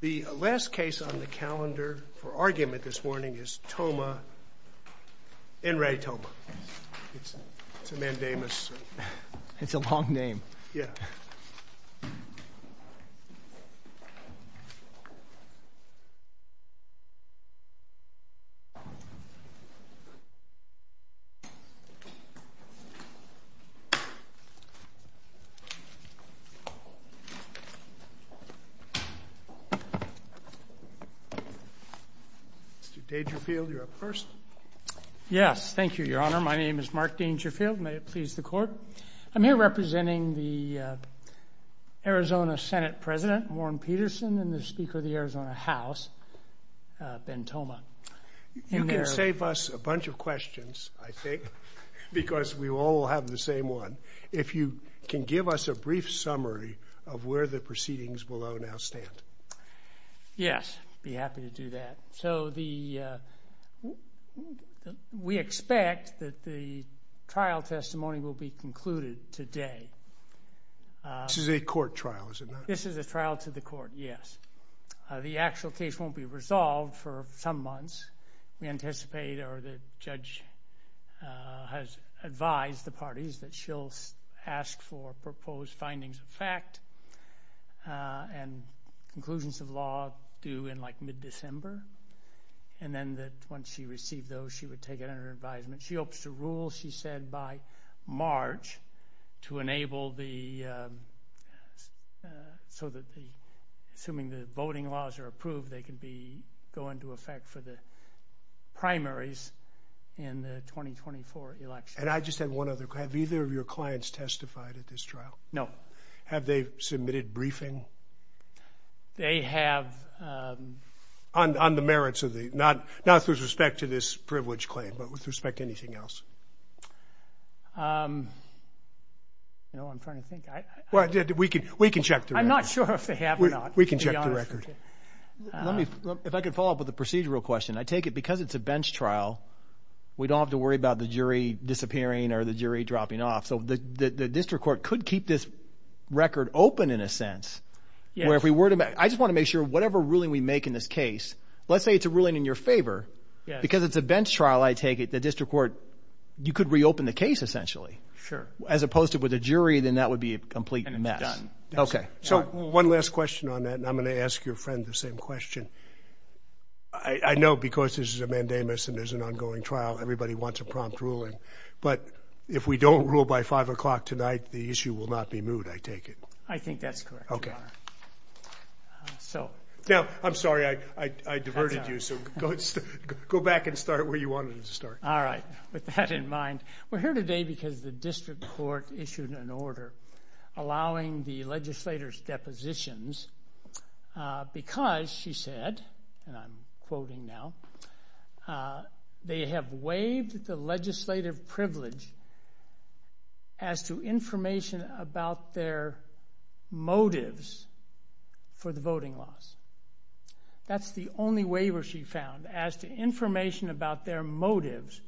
The last case on the calendar for argument this morning is Toma N. Ray Toma. It's a mandamus. It's a long name. Yeah. Mr. Dangerfield, you're up first. Yes. Thank you, Your Honor. My name is Mark Dangerfield. May it please the Court. I'm here representing the Arizona Senate President, Warren Peterson, and the Speaker of the Arizona House, Ben Toma. You can save us a bunch of questions, I think, because we all have the same one. If you can give us a brief summary of where the proceedings below now stand. Yes, I'd be happy to do that. So we expect that the trial testimony will be concluded today. This is a court trial, is it not? This is a trial to the court, yes. The actual case won't be resolved for some months. We anticipate or the judge has advised the parties that she'll ask for proposed findings of fact and conclusions of law due in, like, mid-December, and then that once she received those, she would take it under advisement. She hopes to rule, she said, by March to enable the so that the voting laws are approved, they can go into effect for the primaries in the 2024 election. And I just have one other question. Have either of your clients testified at this trial? No. Have they submitted briefing? They have. On the merits of the, not with respect to this privilege claim, but with respect to anything else? You know, I'm trying to think. We can check. I'm not sure if they have or not. We can check the record. Let me, if I could follow up with a procedural question. I take it because it's a bench trial, we don't have to worry about the jury disappearing or the jury dropping off. So the district court could keep this record open in a sense, where if we were to, I just want to make sure whatever ruling we make in this case, let's say it's a ruling in your favor. Because it's a bench trial, I take it the district court, you could reopen the case essentially. Sure. As opposed to with a jury, then that would be a complete mess. Yes. Okay. So one last question on that, and I'm going to ask your friend the same question. I know because this is a mandamus and there's an ongoing trial, everybody wants a prompt ruling. But if we don't rule by 5 o'clock tonight, the issue will not be moved, I take it. I think that's correct, Your Honor. Okay. Now, I'm sorry, I diverted you. So go back and start where you wanted to start. All right. With that in mind, we're here today because the district court issued an order allowing the legislators' depositions because, she said, and I'm quoting now, they have waived the legislative privilege as to information about their motives for the voting laws. That's the only waiver she found, as to information about their motives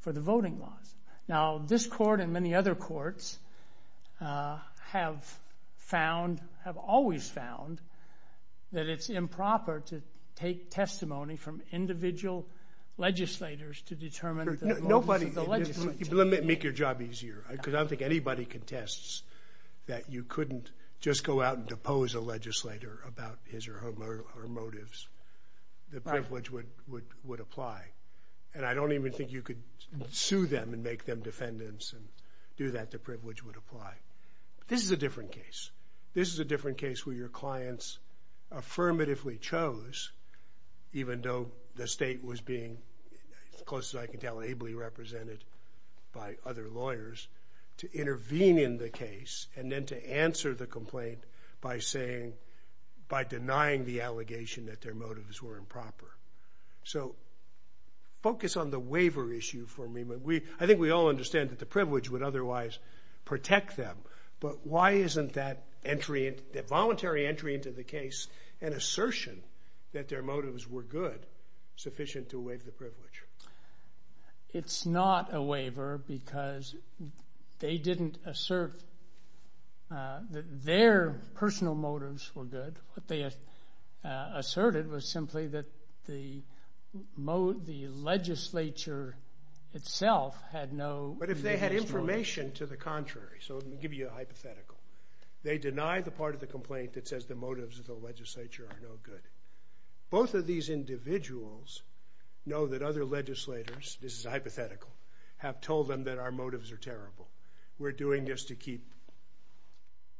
for the voting laws. Now, this court and many other courts have found, have always found, that it's improper to take testimony from individual legislators to determine the motives of the legislature. Let me make your job easier because I don't think anybody contests that you couldn't just go out and depose a legislator about his or her motives. The privilege would apply. And I don't even think you could sue them and make them defendants and do that. The privilege would apply. This is a different case. This is a different case where your clients affirmatively chose, even though the state was being, as close as I can tell, ably represented by other lawyers, to intervene in the case and then to answer the complaint by denying the allegation that their motives were improper. So, focus on the waiver issue for me. I think we all understand that the privilege would otherwise protect them, but why isn't that voluntary entry into the case an assertion that their motives were good, sufficient to waive the privilege? It's not a waiver because they didn't assert that their personal motives were good. What they asserted was simply that the legislature itself had no motives for it. But if they had information to the contrary, so let me give you a hypothetical. They denied the part of the complaint that says the motives of the legislature are no good. Both of these individuals know that other legislators, this is hypothetical, have told them that our motives are terrible. We're doing this to keep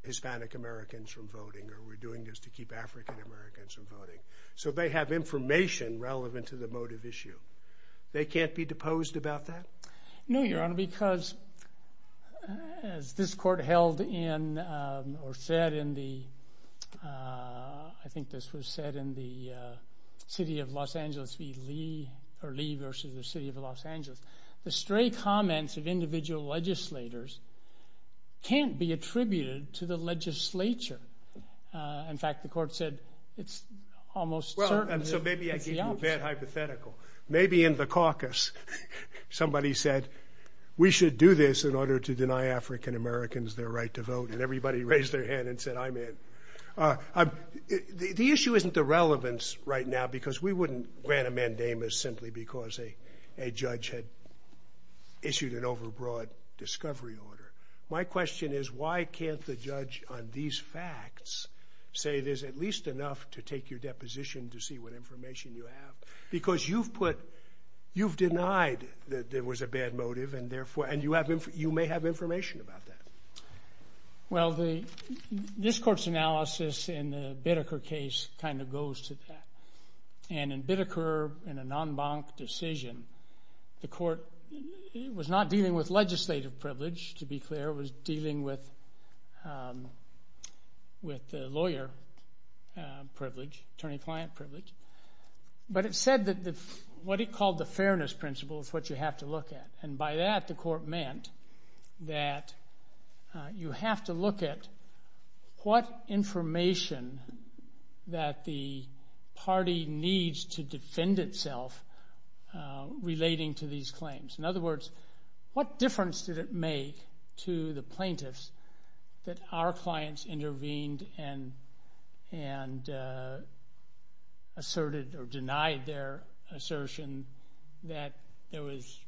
Hispanic Americans from voting or we're doing this to keep African Americans from voting. So they have information relevant to the motive issue. They can't be deposed about that? No, Your Honor, because as this court held in or said in the, I think this was said in the city of Los Angeles v. Lee, or Lee versus the city of Los Angeles, the stray comments of individual legislators can't be attributed to the legislature. In fact, the court said it's almost certain that it's the opposite. So maybe I gave you a bad hypothetical. Maybe in the caucus somebody said, we should do this in order to deny African Americans their right to vote, and everybody raised their hand and said, I'm in. The issue isn't the relevance right now because we wouldn't grant a mandamus simply because a judge had issued an overbroad discovery order. My question is, why can't the judge on these facts say there's at least enough to take your deposition to see what information you have? Because you've put, you've denied that there was a bad motive, and you may have information about that. Well, this court's analysis in the Biddeker case kind of goes to that. And in Biddeker, in a non-bank decision, the court was not dealing with legislative privilege, to be clear, it was dealing with lawyer privilege, attorney-client privilege. But it said that what it called the fairness principle is what you have to look at, and by that the court meant that you have to look at what information that the party needs to defend itself relating to these claims. In other words, what difference did it make to the plaintiffs that our clients intervened and asserted or denied their assertion that there was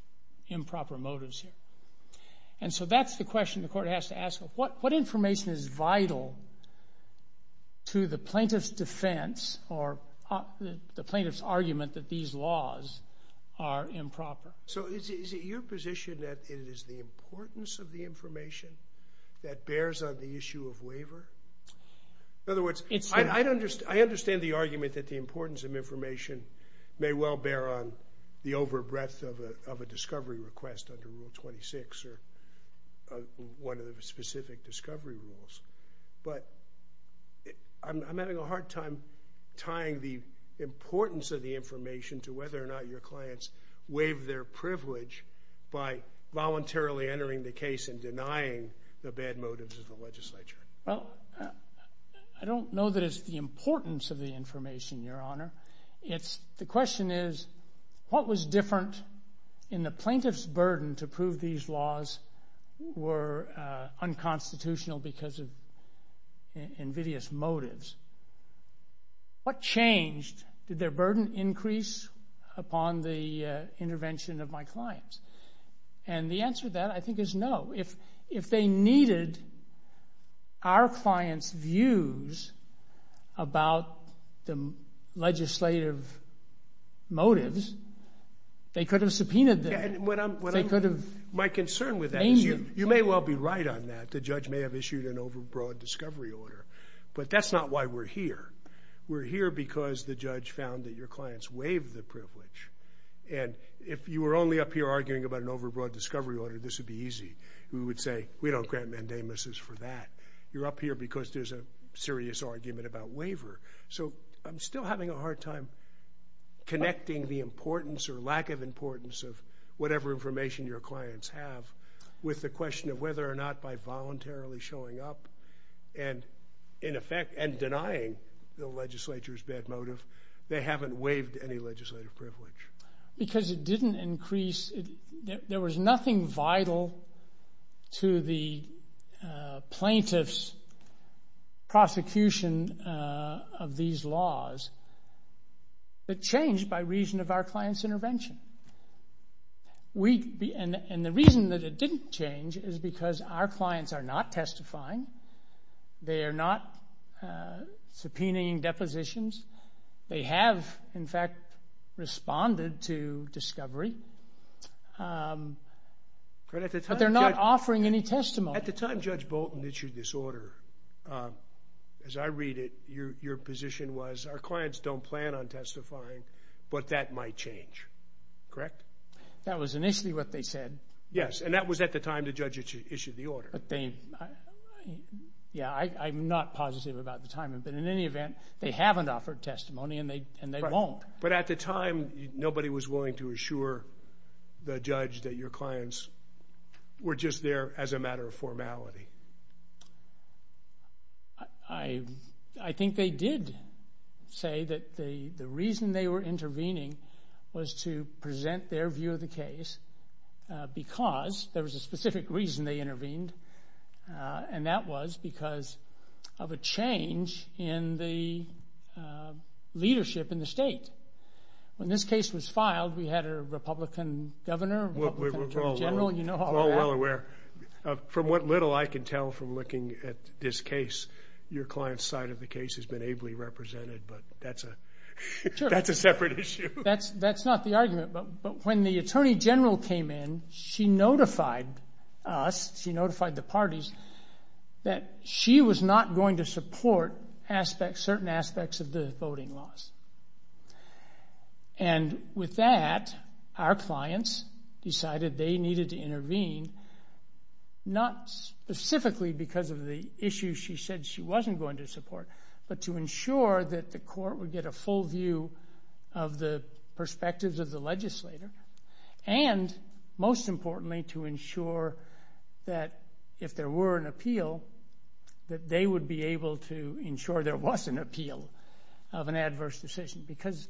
improper motives here? And so that's the question the court has to ask. What information is vital to the plaintiff's defense or the plaintiff's argument that these laws are improper? So is it your position that it is the importance of the information that bears on the issue of waiver? In other words, I understand the argument that the importance of information may well bear on the over breadth of a discovery request under Rule 26 or one of the specific discovery rules, but I'm having a hard time tying the importance of the information to whether or not your clients waived their privilege by voluntarily entering the case and denying the bad motives of the legislature. Well, I don't know that it's the importance of the information, Your Honor. The question is what was different in the plaintiff's burden to prove these laws were unconstitutional because of invidious motives? What changed? Did their burden increase upon the intervention of my clients? And the answer to that, I think, is no. If they needed our clients' views about the legislative motives, they could have subpoenaed them. They could have named them. My concern with that is you may well be right on that. The judge may have issued an over broad discovery order, but that's not why we're here. We're here because the judge found that your clients waived the privilege. And if you were only up here arguing about an over broad discovery order, this would be easy. We would say, we don't grant mandamuses for that. You're up here because there's a serious argument about waiver. So I'm still having a hard time connecting the importance or lack of importance of whatever information your clients have with the question of whether or not by voluntarily showing up and denying the legislature's bad motive, they haven't waived any legislative privilege. Because it didn't increase. There was nothing vital to the plaintiff's prosecution of these laws that changed by reason of our client's intervention. And the reason that it didn't change is because our clients are not testifying. They are not subpoenaing depositions. They have, in fact, responded to discovery. But they're not offering any testimony. At the time Judge Bolton issued this order, as I read it, your position was our clients don't plan on testifying, but that might change, correct? That was initially what they said. Yes, and that was at the time the judge issued the order. Yeah, I'm not positive about the timing, but in any event they haven't offered testimony and they won't. But at the time nobody was willing to assure the judge that your clients were just there as a matter of formality. I think they did say that the reason they were intervening was to present their view of the case because there was a specific reason they intervened, and that was because of a change in the leadership in the state. When this case was filed, we had a Republican governor, Republican Attorney General, you know all about that. From what little I can tell from looking at this case, your client's side of the case has been ably represented, but that's a separate issue. That's not the argument, but when the Attorney General came in, she notified us, she notified the parties, that she was not going to support certain aspects of the voting laws. And with that, our clients decided they needed to intervene, not specifically because of the issue she said she wasn't going to support, but to ensure that the court would get a full view of the perspectives of the legislator, and most importantly to ensure that if there were an appeal, that they would be able to ensure there was an appeal of an adverse decision because,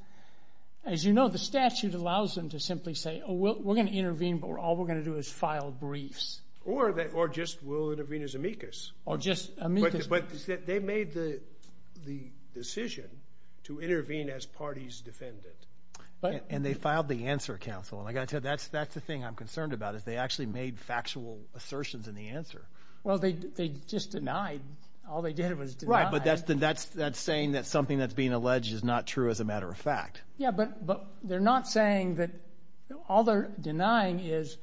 as you know, the statute allows them to simply say, oh, we're going to intervene, but all we're going to do is file briefs. Or just we'll intervene as amicus. Or just amicus. But they made the decision to intervene as parties defendant. And they filed the answer counsel, and like I said, that's the thing I'm concerned about, is they actually made factual assertions in the answer. Well, they just denied. All they did was deny. But that's saying that something that's being alleged is not true, as a matter of fact. Yeah, but they're not saying that all they're denying is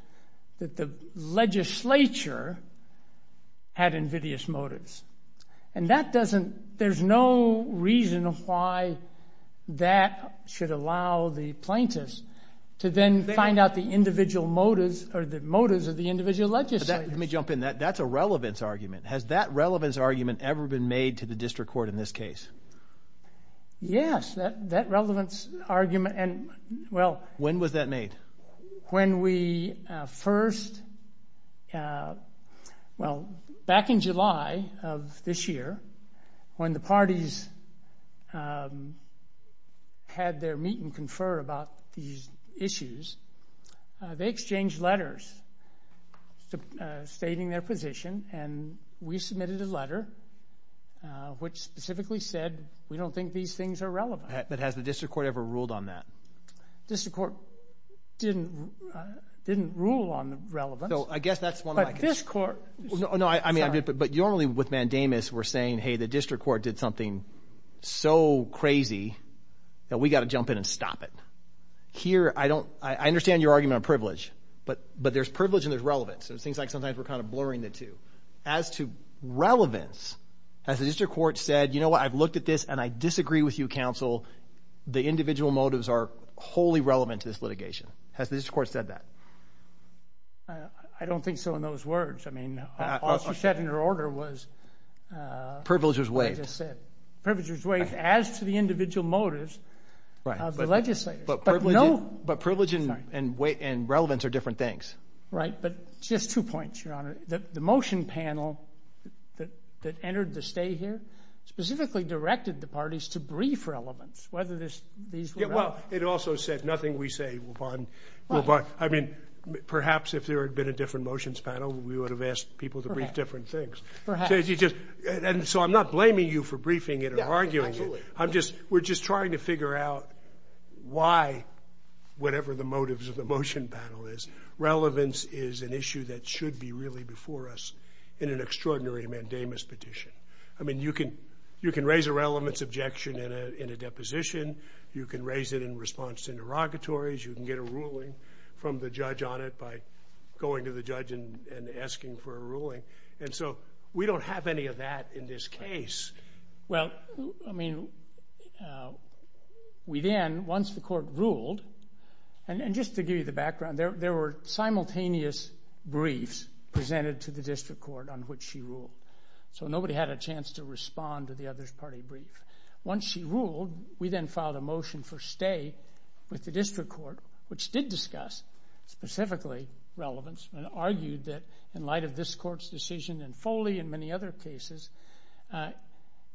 that the legislature had invidious motives. And there's no reason why that should allow the plaintiffs to then find out the motives of the individual legislators. Let me jump in. That's a relevance argument. Has that relevance argument ever been made to the district court in this case? Yes, that relevance argument. When was that made? When we first, well, back in July of this year, when the parties had their meet and confer about these issues, they exchanged letters stating their position, and we submitted a letter which specifically said, we don't think these things are relevant. But has the district court ever ruled on that? The district court didn't rule on the relevance. So I guess that's one of my concerns. But this court, sorry. But normally with mandamus we're saying, hey, the district court did something so crazy that we've got to jump in and stop it. Here, I understand your argument on privilege, but there's privilege and there's relevance. So it seems like sometimes we're kind of blurring the two. As to relevance, has the district court said, you know what, I've looked at this and I disagree with you, counsel. The individual motives are wholly relevant to this litigation. Has the district court said that? I don't think so in those words. I mean, all she said in her order was as I just said. Privilege was waived. As to the individual motives of the legislators. But privilege and relevance are different things. Right. But just two points, Your Honor. The motion panel that entered the stay here specifically directed the parties to brief relevance, whether these were relevant. Well, it also said nothing we say will bond. I mean, perhaps if there had been a different motions panel, we would have asked people to brief different things. Perhaps. So I'm not blaming you for briefing it or arguing it. We're just trying to figure out why, whatever the motives of the motion panel is, relevance is an issue that should be really before us in an extraordinary mandamus petition. I mean, you can raise a relevance objection in a deposition. You can raise it in response to interrogatories. You can get a ruling from the judge on it by going to the judge and asking for a ruling. And so we don't have any of that in this case. Well, I mean, we then, once the court ruled, and just to give you the background, there were simultaneous briefs presented to the district court on which she ruled. So nobody had a chance to respond to the other's party brief. Once she ruled, we then filed a motion for stay with the district court, which did discuss specifically relevance and argued that in light of this court's decision, and Foley and many other cases,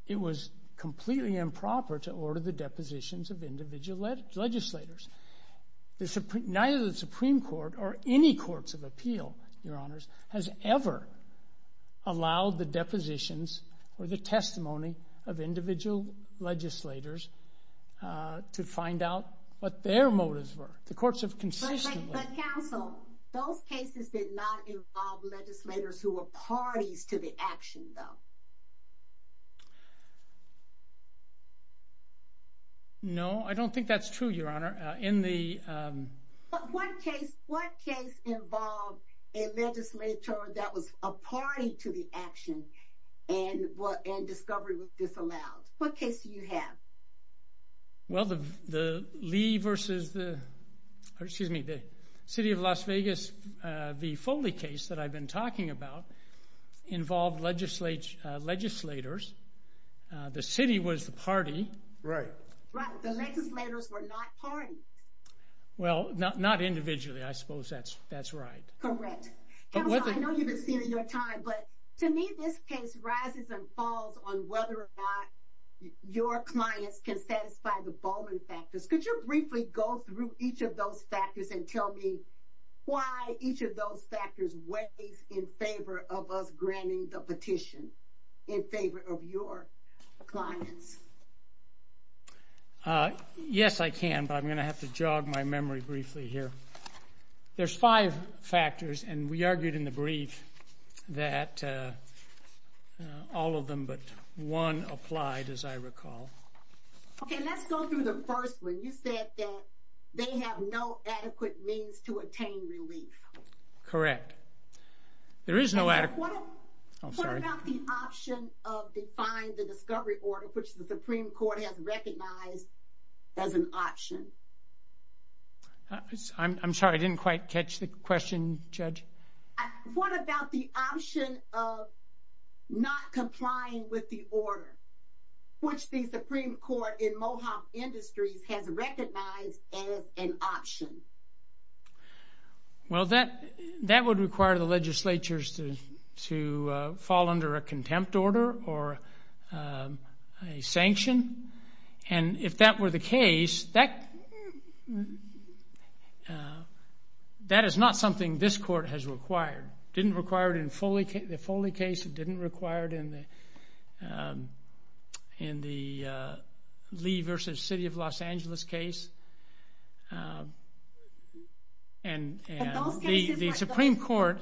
it was completely improper to order the depositions of individual legislators. Neither the Supreme Court or any courts of appeal, Your Honors, has ever allowed the depositions or the testimony of individual legislators to find out what their motives were. The courts have consistently. But, counsel, those cases did not involve legislators who were parties to the action, though. No, I don't think that's true, Your Honor. But what case involved a legislator that was a party to the action and discovery was disallowed? What case do you have? Well, the Lee versus the city of Las Vegas v. Foley case that I've been talking about involved legislators. The city was the party. Right. Right, the legislators were not parties. Well, not individually, I suppose that's right. Correct. Counsel, I know you can see it in your time, but to me this case rises and falls on whether or not your clients can satisfy the Bowman factors. Could you briefly go through each of those factors and tell me why each of those factors weighs in favor of us granting the petition, in favor of your clients? Yes, I can, but I'm going to have to jog my memory briefly here. There's five factors, and we argued in the brief that all of them but one applied, as I recall. Okay, let's go through the first one. You said that they have no adequate means to attain relief. Correct. What about the option of defying the discovery order, which the Supreme Court has recognized as an option? I'm sorry, I didn't quite catch the question, Judge. What about the option of not complying with the order, which the Supreme Court in Mohawk Industries has recognized as an option? Well, that would require the legislatures to fall under a contempt order or a sanction, and if that were the case, that is not something this court has required. It didn't require it in the Foley case. It didn't require it in the Lee v. City of Los Angeles case. The Supreme Court,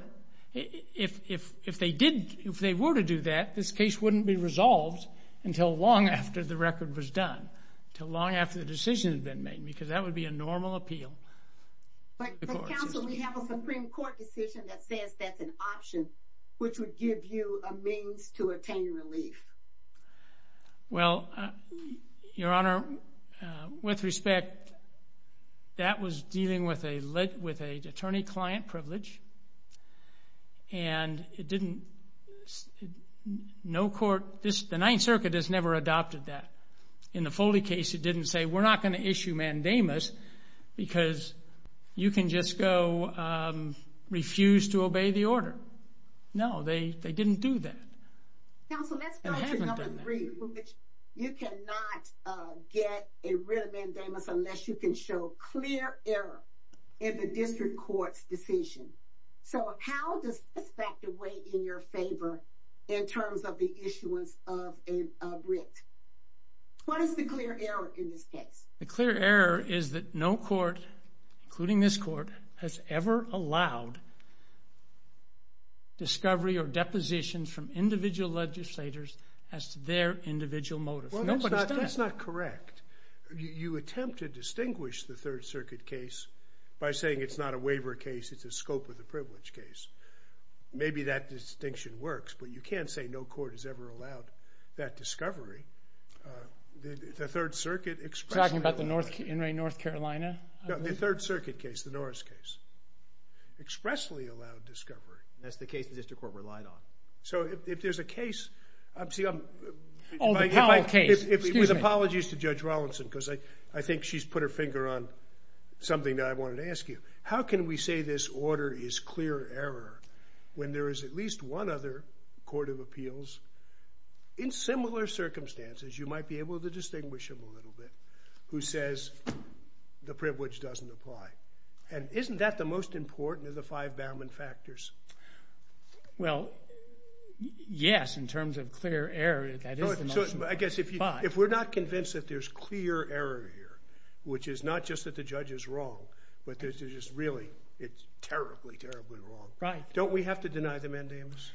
if they were to do that, this case wouldn't be resolved until long after the record was done, until long after the decision had been made, because that would be a normal appeal. But, counsel, we have a Supreme Court decision that says that's an option, which would give you a means to attain relief. Well, Your Honor, with respect, that was dealing with an attorney-client privilege, and the Ninth Circuit has never adopted that. In the Foley case, it didn't say, we're not going to issue mandamus because you can just go refuse to obey the order. No, they didn't do that. Counsel, let's go to number three, which you cannot get a real mandamus unless you can show clear error in the district court's decision. So how does this factor weigh in your favor in terms of the issuance of a writ? What is the clear error in this case? The clear error is that no court, including this court, has ever allowed discovery or depositions from individual legislators as to their individual motives. That's not correct. You attempt to distinguish the Third Circuit case by saying it's not a waiver case, it's a scope of the privilege case. Maybe that distinction works, but you can't say no court has ever allowed that discovery. The Third Circuit expressly allowed discovery. You're talking about the In re North Carolina case? No, the Third Circuit case, the Norris case. Expressly allowed discovery. That's the case the district court relied on. So if there's a case... Oh, the Powell case, excuse me. With apologies to Judge Rawlinson, because I think she's put her finger on something that I wanted to ask you. How can we say this order is clear error when there is at least one other court of appeals in similar circumstances, you might be able to distinguish them a little bit, who says the privilege doesn't apply? And isn't that the most important of the five Bauman factors? Well, yes, in terms of clear error, that is the most important. I guess if we're not convinced that there's clear error here, which is not just that the judge is wrong, but it's just really terribly, terribly wrong, don't we have to deny the mandamus?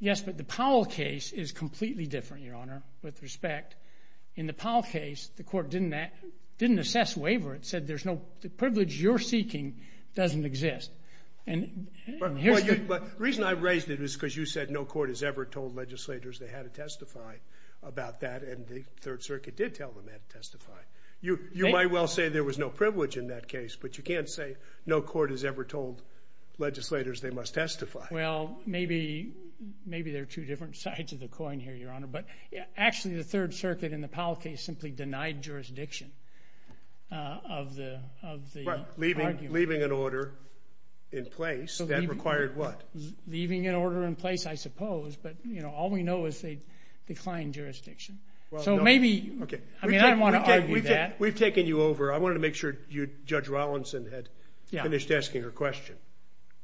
Yes, but the Powell case is completely different, Your Honor, with respect. In the Powell case, the court didn't assess waiver. It said the privilege you're seeking doesn't exist. The reason I raised it was because you said no court has ever told legislators they had to testify about that, and the Third Circuit did tell them they had to testify. You might well say there was no privilege in that case, but you can't say no court has ever told legislators they must testify. Well, maybe there are two different sides of the coin here, Your Honor, but actually the Third Circuit in the Powell case simply denied jurisdiction of the argument. Right, leaving an order in place, that required what? Leaving an order in place, I suppose, but all we know is they declined jurisdiction. So maybe, I mean, I don't want to argue that. We've taken you over. I wanted to make sure Judge Rawlinson had finished asking her question.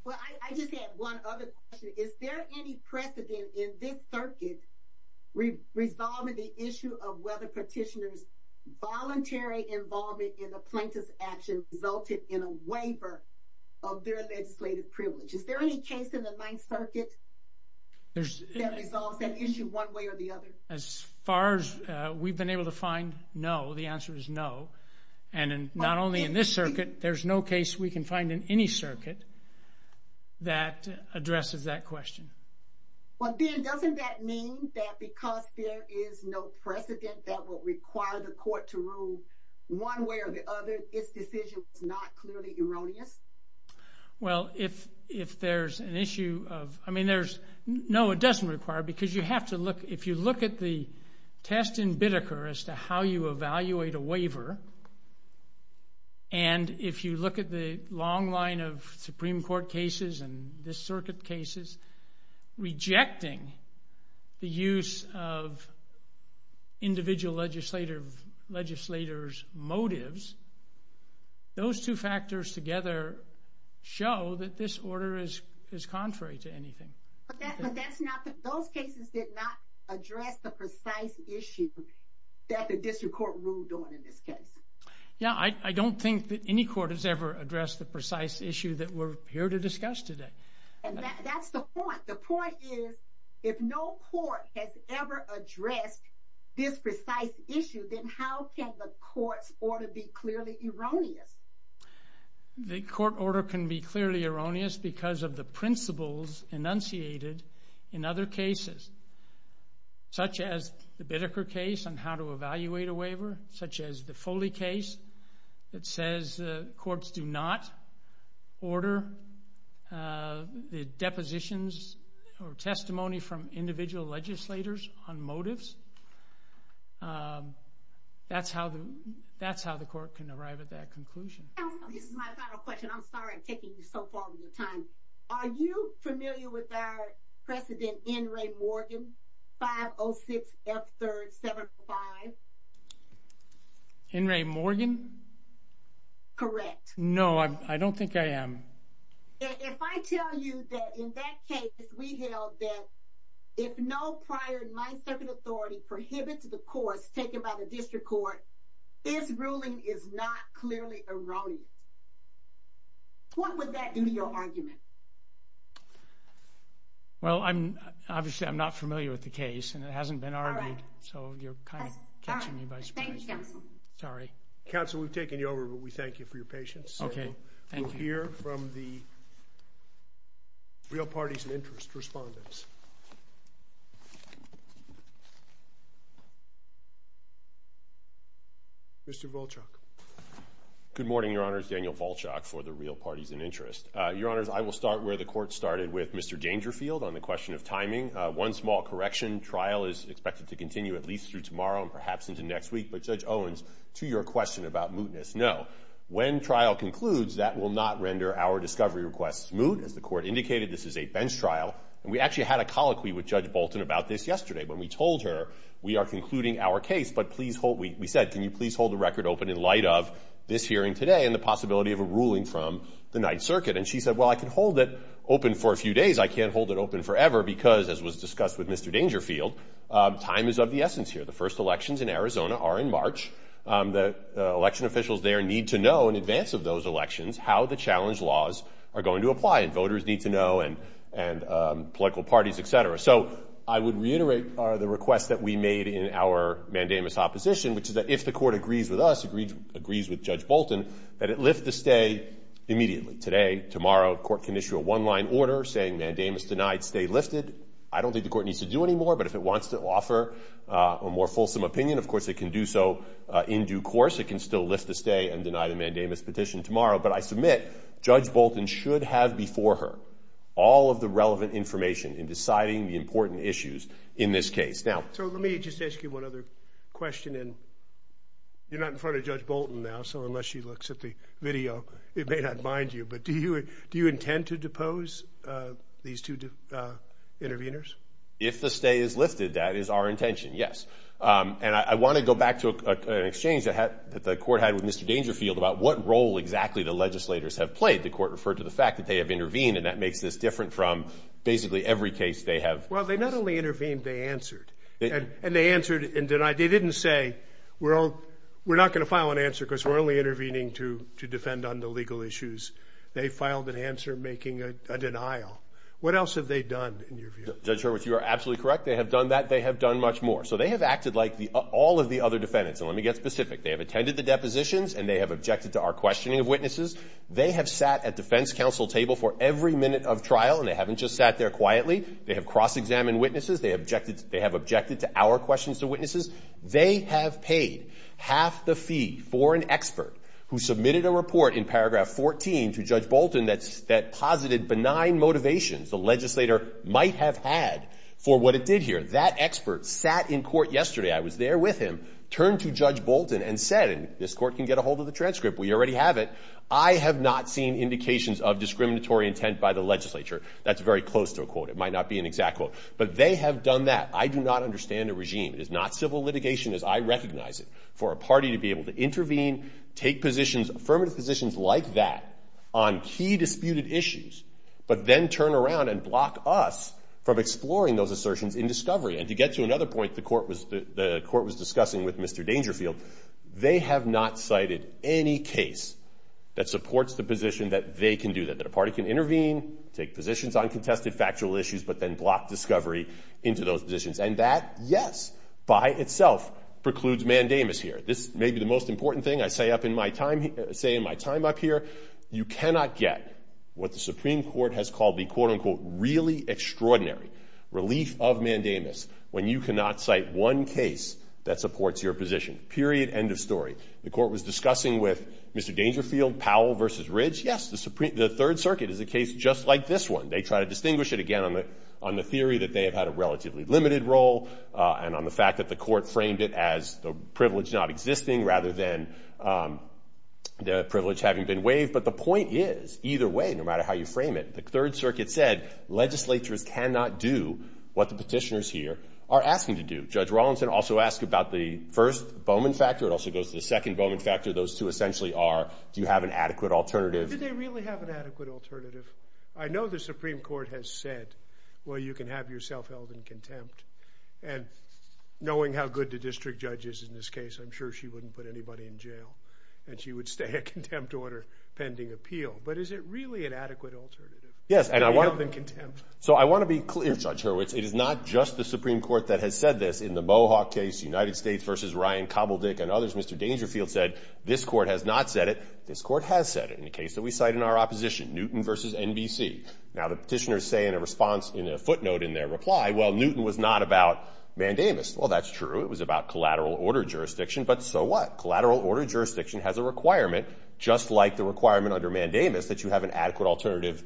Well, I just had one other question. Is there any precedent in this circuit resolving the issue of whether petitioners' voluntary involvement in the plaintiff's action resulted in a waiver of their legislative privilege? Is there any case in the Ninth Circuit that resolves that issue one way or the other? As far as we've been able to find, no. The answer is no. And not only in this circuit, there's no case we can find in any circuit that addresses that question. Well, then doesn't that mean that because there is no precedent that will require the court to rule one way or the other, its decision is not clearly erroneous? Well, if there's an issue of, I mean, there's, no, it doesn't require, because you have to look, if you look at the test in Bidiker as to how you evaluate a waiver, and if you look at the long line of Supreme Court cases and this circuit cases rejecting the use of individual legislators' motives, those two factors together show that this order is contrary to anything. But that's not, those cases did not address the precise issue that the district court ruled on in this case. Yeah, I don't think that any court has ever addressed the precise issue that we're here to discuss today. That's the point. The point is, if no court has ever addressed this precise issue, then how can the court's order be clearly erroneous? The court order can be clearly erroneous because of the principles enunciated in other cases, such as the Bidiker case on how to evaluate a waiver, such as the Foley case that says courts do not order the depositions or testimony from individual legislators on motives. That's how the court can arrive at that conclusion. This is my final question. I'm sorry I'm taking you so far with your time. Are you familiar with our precedent, N. Ray Morgan, 506 F3rd 75? N. Ray Morgan? Correct. No, I don't think I am. If I tell you that in that case, we held that if no prior 9th Circuit authority prohibits the courts taken by the district court, this ruling is not clearly erroneous, what would that do to your argument? Well, obviously I'm not familiar with the case, and it hasn't been argued, so you're kind of catching me by surprise. Thank you, counsel. Sorry. Counsel, we've taken you over, but we thank you for your patience. Okay, thank you. We're going to hear from the Real Parties of Interest respondents. Mr. Volchok. Good morning, Your Honors. Daniel Volchok for the Real Parties of Interest. Your Honors, I will start where the court started with Mr. Dangerfield on the question of timing. One small correction, trial is expected to continue at least through tomorrow and perhaps into next week. But, Judge Owens, to your question about mootness, no. When trial concludes, that will not render our discovery request moot. As the court indicated, this is a bench trial, and we actually had a colloquy with Judge Bolton about this yesterday when we told her we are concluding our case, but we said, can you please hold the record open in light of this hearing today and the possibility of a ruling from the 9th Circuit? And she said, well, I can hold it open for a few days. I can't hold it open forever because, as was discussed with Mr. Dangerfield, time is of the essence here. The first elections in Arizona are in March. The election officials there need to know in advance of those elections how the challenge laws are going to apply, and voters need to know and political parties, et cetera. So I would reiterate the request that we made in our mandamus opposition, which is that if the court agrees with us, agrees with Judge Bolton, that it lift the stay immediately. Today, tomorrow, court can issue a one-line order saying, mandamus denied, stay lifted. I don't think the court needs to do any more, but if it wants to offer a more fulsome opinion, of course it can do so in due course. It can still lift the stay and deny the mandamus petition tomorrow, but I submit Judge Bolton should have before her all of the relevant information in deciding the important issues in this case. So let me just ask you one other question, and you're not in front of Judge Bolton now, so unless she looks at the video, it may not mind you, but do you intend to depose these two interveners? If the stay is lifted, that is our intention, yes. And I want to go back to an exchange that the court had with Mr. Dangerfield about what role exactly the legislators have played. The court referred to the fact that they have intervened, and that makes this different from basically every case they have. Well, they not only intervened, they answered. And they answered and denied. They didn't say, well, we're not going to file an answer because we're only intervening to defend on the legal issues. They filed an answer making a denial. What else have they done, in your view? Judge Hurwitz, you are absolutely correct. They have done that. So they have acted like all of the other defendants. And let me get specific. They have attended the depositions, and they have objected to our questioning of witnesses. They have sat at defense counsel table for every minute of trial, and they haven't just sat there quietly. They have cross-examined witnesses. They have objected to our questions to witnesses. They have paid half the fee for an expert who submitted a report in paragraph 14 to Judge Bolton that posited benign motivations the legislator might have had for what it did here. That expert sat in court yesterday. I was there with him. Turned to Judge Bolton and said, and this court can get a hold of the transcript. We already have it. I have not seen indications of discriminatory intent by the legislature. That's very close to a quote. It might not be an exact quote. But they have done that. I do not understand a regime. It is not civil litigation as I recognize it for a party to be able to intervene, take positions, affirmative positions like that on key disputed issues, but then turn around and block us from exploring those assertions in discovery. And to get to another point the court was discussing with Mr. Dangerfield, they have not cited any case that supports the position that they can do that, that a party can intervene, take positions on contested factual issues, but then block discovery into those positions. And that, yes, by itself precludes mandamus here. This may be the most important thing I say in my time up here. You cannot get what the Supreme Court has called the quote, unquote, really extraordinary relief of mandamus when you cannot cite one case that supports your position. Period. End of story. The court was discussing with Mr. Dangerfield, Powell versus Ridge. Yes, the Third Circuit is a case just like this one. They try to distinguish it, again, on the theory that they have had a relatively limited role and on the fact that the court framed it as the privilege not existing rather than the privilege having been waived. But the point is either way, no matter how you frame it, the Third Circuit said legislatures cannot do what the petitioners here are asking to do. Judge Rawlinson also asked about the first Bowman factor. It also goes to the second Bowman factor. Those two essentially are do you have an adequate alternative. Do they really have an adequate alternative? I know the Supreme Court has said, well, you can have yourself held in contempt. And knowing how good the district judge is in this case, I'm sure she wouldn't put anybody in jail and she would stay a contempt order pending appeal. But is it really an adequate alternative? Yes, and I want to be clear, Judge Hurwitz, it is not just the Supreme Court that has said this. In the Mohawk case, United States versus Ryan Kobeldick and others, Mr. Dangerfield said this court has not said it. This court has said it in the case that we cite in our opposition, Newton versus NBC. Now the petitioners say in a response, in a footnote in their reply, well, Newton was not about mandamus. Well, that's true. It was about collateral order jurisdiction. But so what? Collateral order jurisdiction has a requirement just like the requirement under mandamus that you have an adequate alternative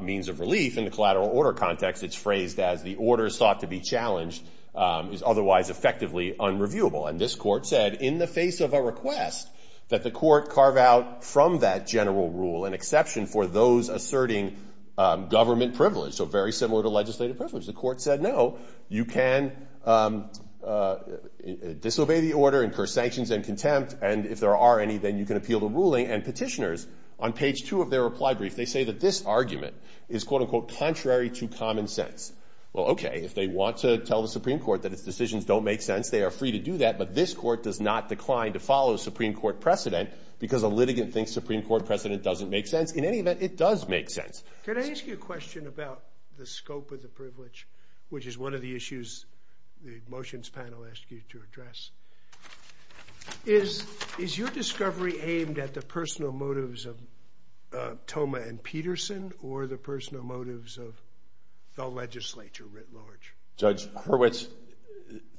means of relief in the collateral order context. It's phrased as the order sought to be challenged is otherwise effectively unreviewable. And this court said in the face of a request that the court carve out from that general rule an exception for those asserting government privilege, so very similar to legislative privilege. The court said, no, you can disobey the order, incur sanctions and contempt, and if there are any, then you can appeal the ruling. And petitioners on page two of their reply brief, they say that this argument is, quote, unquote, contrary to common sense. Well, okay, if they want to tell the Supreme Court that its decisions don't make sense, they are free to do that, but this court does not decline to follow a Supreme Court precedent because a litigant thinks Supreme Court precedent doesn't make sense. In any event, it does make sense. Can I ask you a question about the scope of the privilege, which is one of the issues the motions panel asked you to address? Is your discovery aimed at the personal motives of Thoma and Peterson or the personal motives of the legislature writ large? Judge Hurwitz,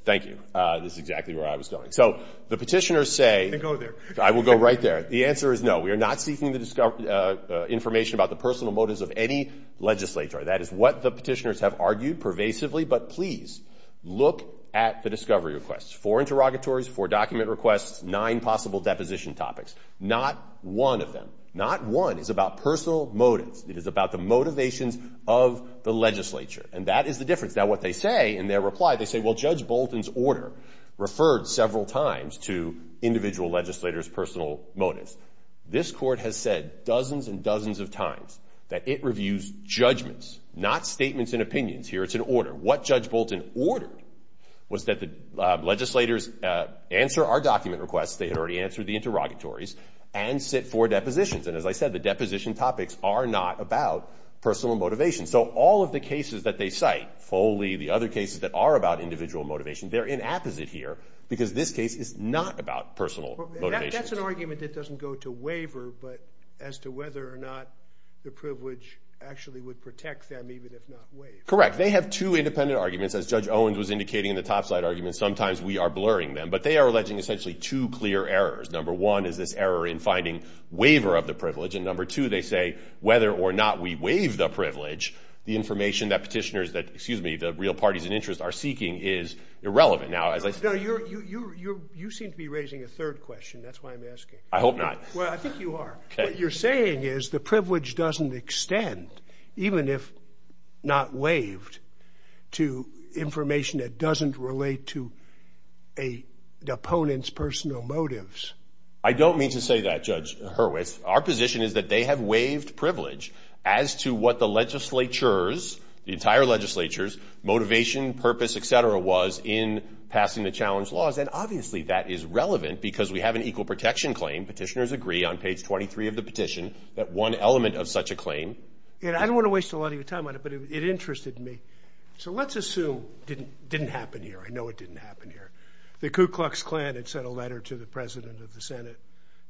thank you. This is exactly where I was going. So the petitioners say they go there. I will go right there. The answer is no. We are not seeking information about the personal motives of any legislature. That is what the petitioners have argued pervasively, but please look at the discovery requests. Four interrogatories, four document requests, nine possible deposition topics. Not one of them, not one, is about personal motives. It is about the motivations of the legislature, and that is the difference. Now, what they say in their reply, they say, well, Judge Bolton's order referred several times to individual legislators' personal motives. This court has said dozens and dozens of times that it reviews judgments, not statements and opinions. Here it's an order. What Judge Bolton ordered was that the legislators answer our document requests, they had already answered the interrogatories, and sit for depositions. And as I said, the deposition topics are not about personal motivations. So all of the cases that they cite, Foley, the other cases that are about individual motivation, they're in apposite here because this case is not about personal motivations. That's an argument that doesn't go to waiver, but as to whether or not the privilege actually would protect them even if not waived. Correct. They have two independent arguments. As Judge Owens was indicating in the topside argument, sometimes we are blurring them. But they are alleging essentially two clear errors. Number one is this error in finding waiver of the privilege, and number two they say whether or not we waive the privilege, the information that petitioners, excuse me, the real parties in interest are seeking is irrelevant. You seem to be raising a third question. That's why I'm asking. I hope not. Well, I think you are. What you're saying is the privilege doesn't extend, even if not waived to information that doesn't relate to the opponent's personal motives. I don't mean to say that, Judge Hurwitz. Our position is that they have waived privilege as to what the legislature's, the entire legislature's motivation, purpose, et cetera, was in passing the challenge laws. And obviously that is relevant because we have an equal protection claim. Petitioners agree on page 23 of the petition that one element of such a claim. I don't want to waste a lot of your time on it, but it interested me. So let's assume it didn't happen here. I know it didn't happen here. The Ku Klux Klan had sent a letter to the President of the Senate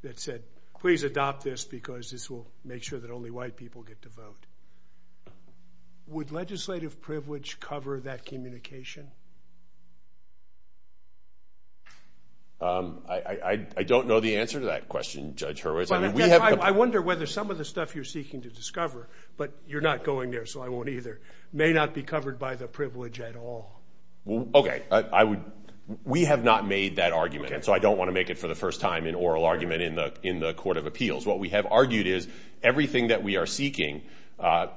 that said, please adopt this because this will make sure that only white people get to vote. Would legislative privilege cover that communication? I don't know the answer to that question, Judge Hurwitz. I wonder whether some of the stuff you're seeking to discover, but you're not going there so I won't either, may not be covered by the privilege at all. Okay. We have not made that argument, so I don't want to make it for the first time in oral argument in the Court of Appeals. What we have argued is everything that we are seeking, to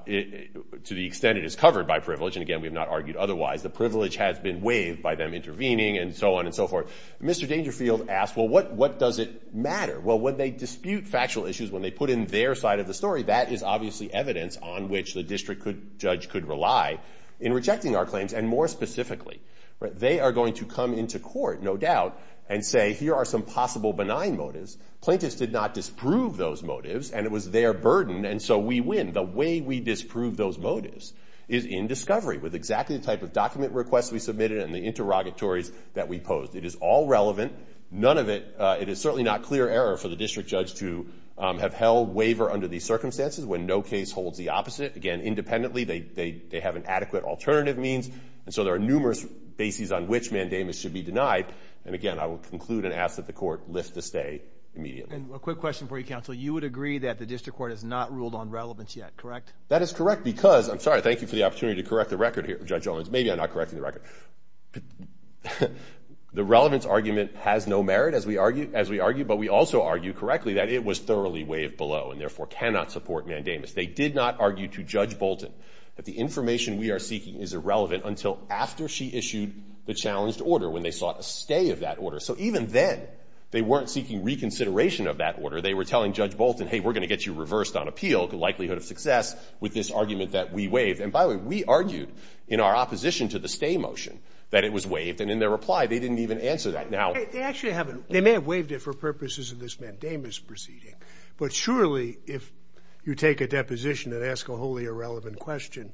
the extent it is covered by privilege, and, again, we have not argued otherwise, the privilege has been waived by them intervening and so on and so forth. Mr. Dangerfield asked, well, what does it matter? Well, when they dispute factual issues, when they put in their side of the story, that is obviously evidence on which the district judge could rely in rejecting our claims. And more specifically, they are going to come into court, no doubt, and say, here are some possible benign motives. Plaintiffs did not disprove those motives, and it was their burden, and so we win. The way we disprove those motives is in discovery with exactly the type of document requests we submitted and the interrogatories that we posed. It is all relevant. None of it, it is certainly not clear error for the district judge to have held waiver under these circumstances when no case holds the opposite. Again, independently, they have an adequate alternative means, and so there are numerous bases on which mandamus should be denied. And, again, I will conclude and ask that the court lift the stay immediately. And a quick question for you, counsel. You would agree that the district court has not ruled on relevance yet, correct? That is correct because, I'm sorry, thank you for the opportunity to correct the record here, Judge Owens. Maybe I'm not correcting the record. The relevance argument has no merit, as we argue, but we also argue correctly that it was thoroughly waived below and, therefore, cannot support mandamus. They did not argue to Judge Bolton that the information we are seeking is irrelevant until after she issued the challenged order when they sought a stay of that order. So even then, they weren't seeking reconsideration of that order. They were telling Judge Bolton, hey, we're going to get you reversed on appeal, the likelihood of success, with this argument that we waived. And, by the way, we argued in our opposition to the stay motion that it was waived, and in their reply they didn't even answer that. Now they actually haven't. They may have waived it for purposes of this mandamus proceeding, but surely if you take a deposition and ask a wholly irrelevant question,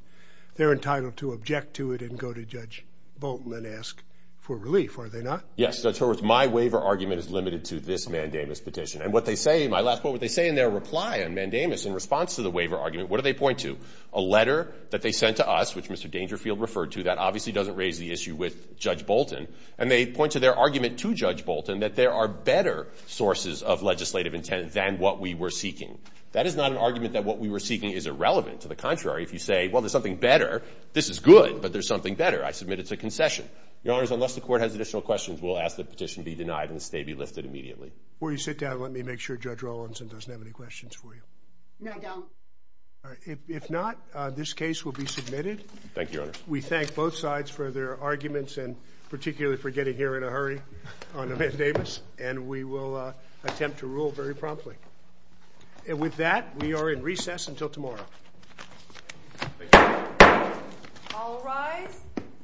they're entitled to object to it and go to Judge Bolton and ask for relief, are they not? Yes, Judge Owens. My waiver argument is limited to this mandamus petition. And what they say, my last point, what they say in their reply on mandamus in response to the waiver argument, what do they point to? A letter that they sent to us, which Mr. Dangerfield referred to, that obviously doesn't raise the issue with Judge Bolton, and they point to their argument to Judge Bolton that there are better sources of legislative intent than what we were seeking. That is not an argument that what we were seeking is irrelevant. To the contrary, if you say, well, there's something better, this is good, but there's something better, I submit it's a concession. Your Honors, unless the Court has additional questions, we'll ask the petition be denied and the stay be lifted immediately. Before you sit down, let me make sure Judge Rawlinson doesn't have any questions for you. No, I don't. If not, this case will be submitted. Thank you, Your Honors. We thank both sides for their arguments and particularly for getting here in a hurry on a mandamus, and we will attempt to rule very promptly. With that, we are in recess until tomorrow. Thank you. All rise.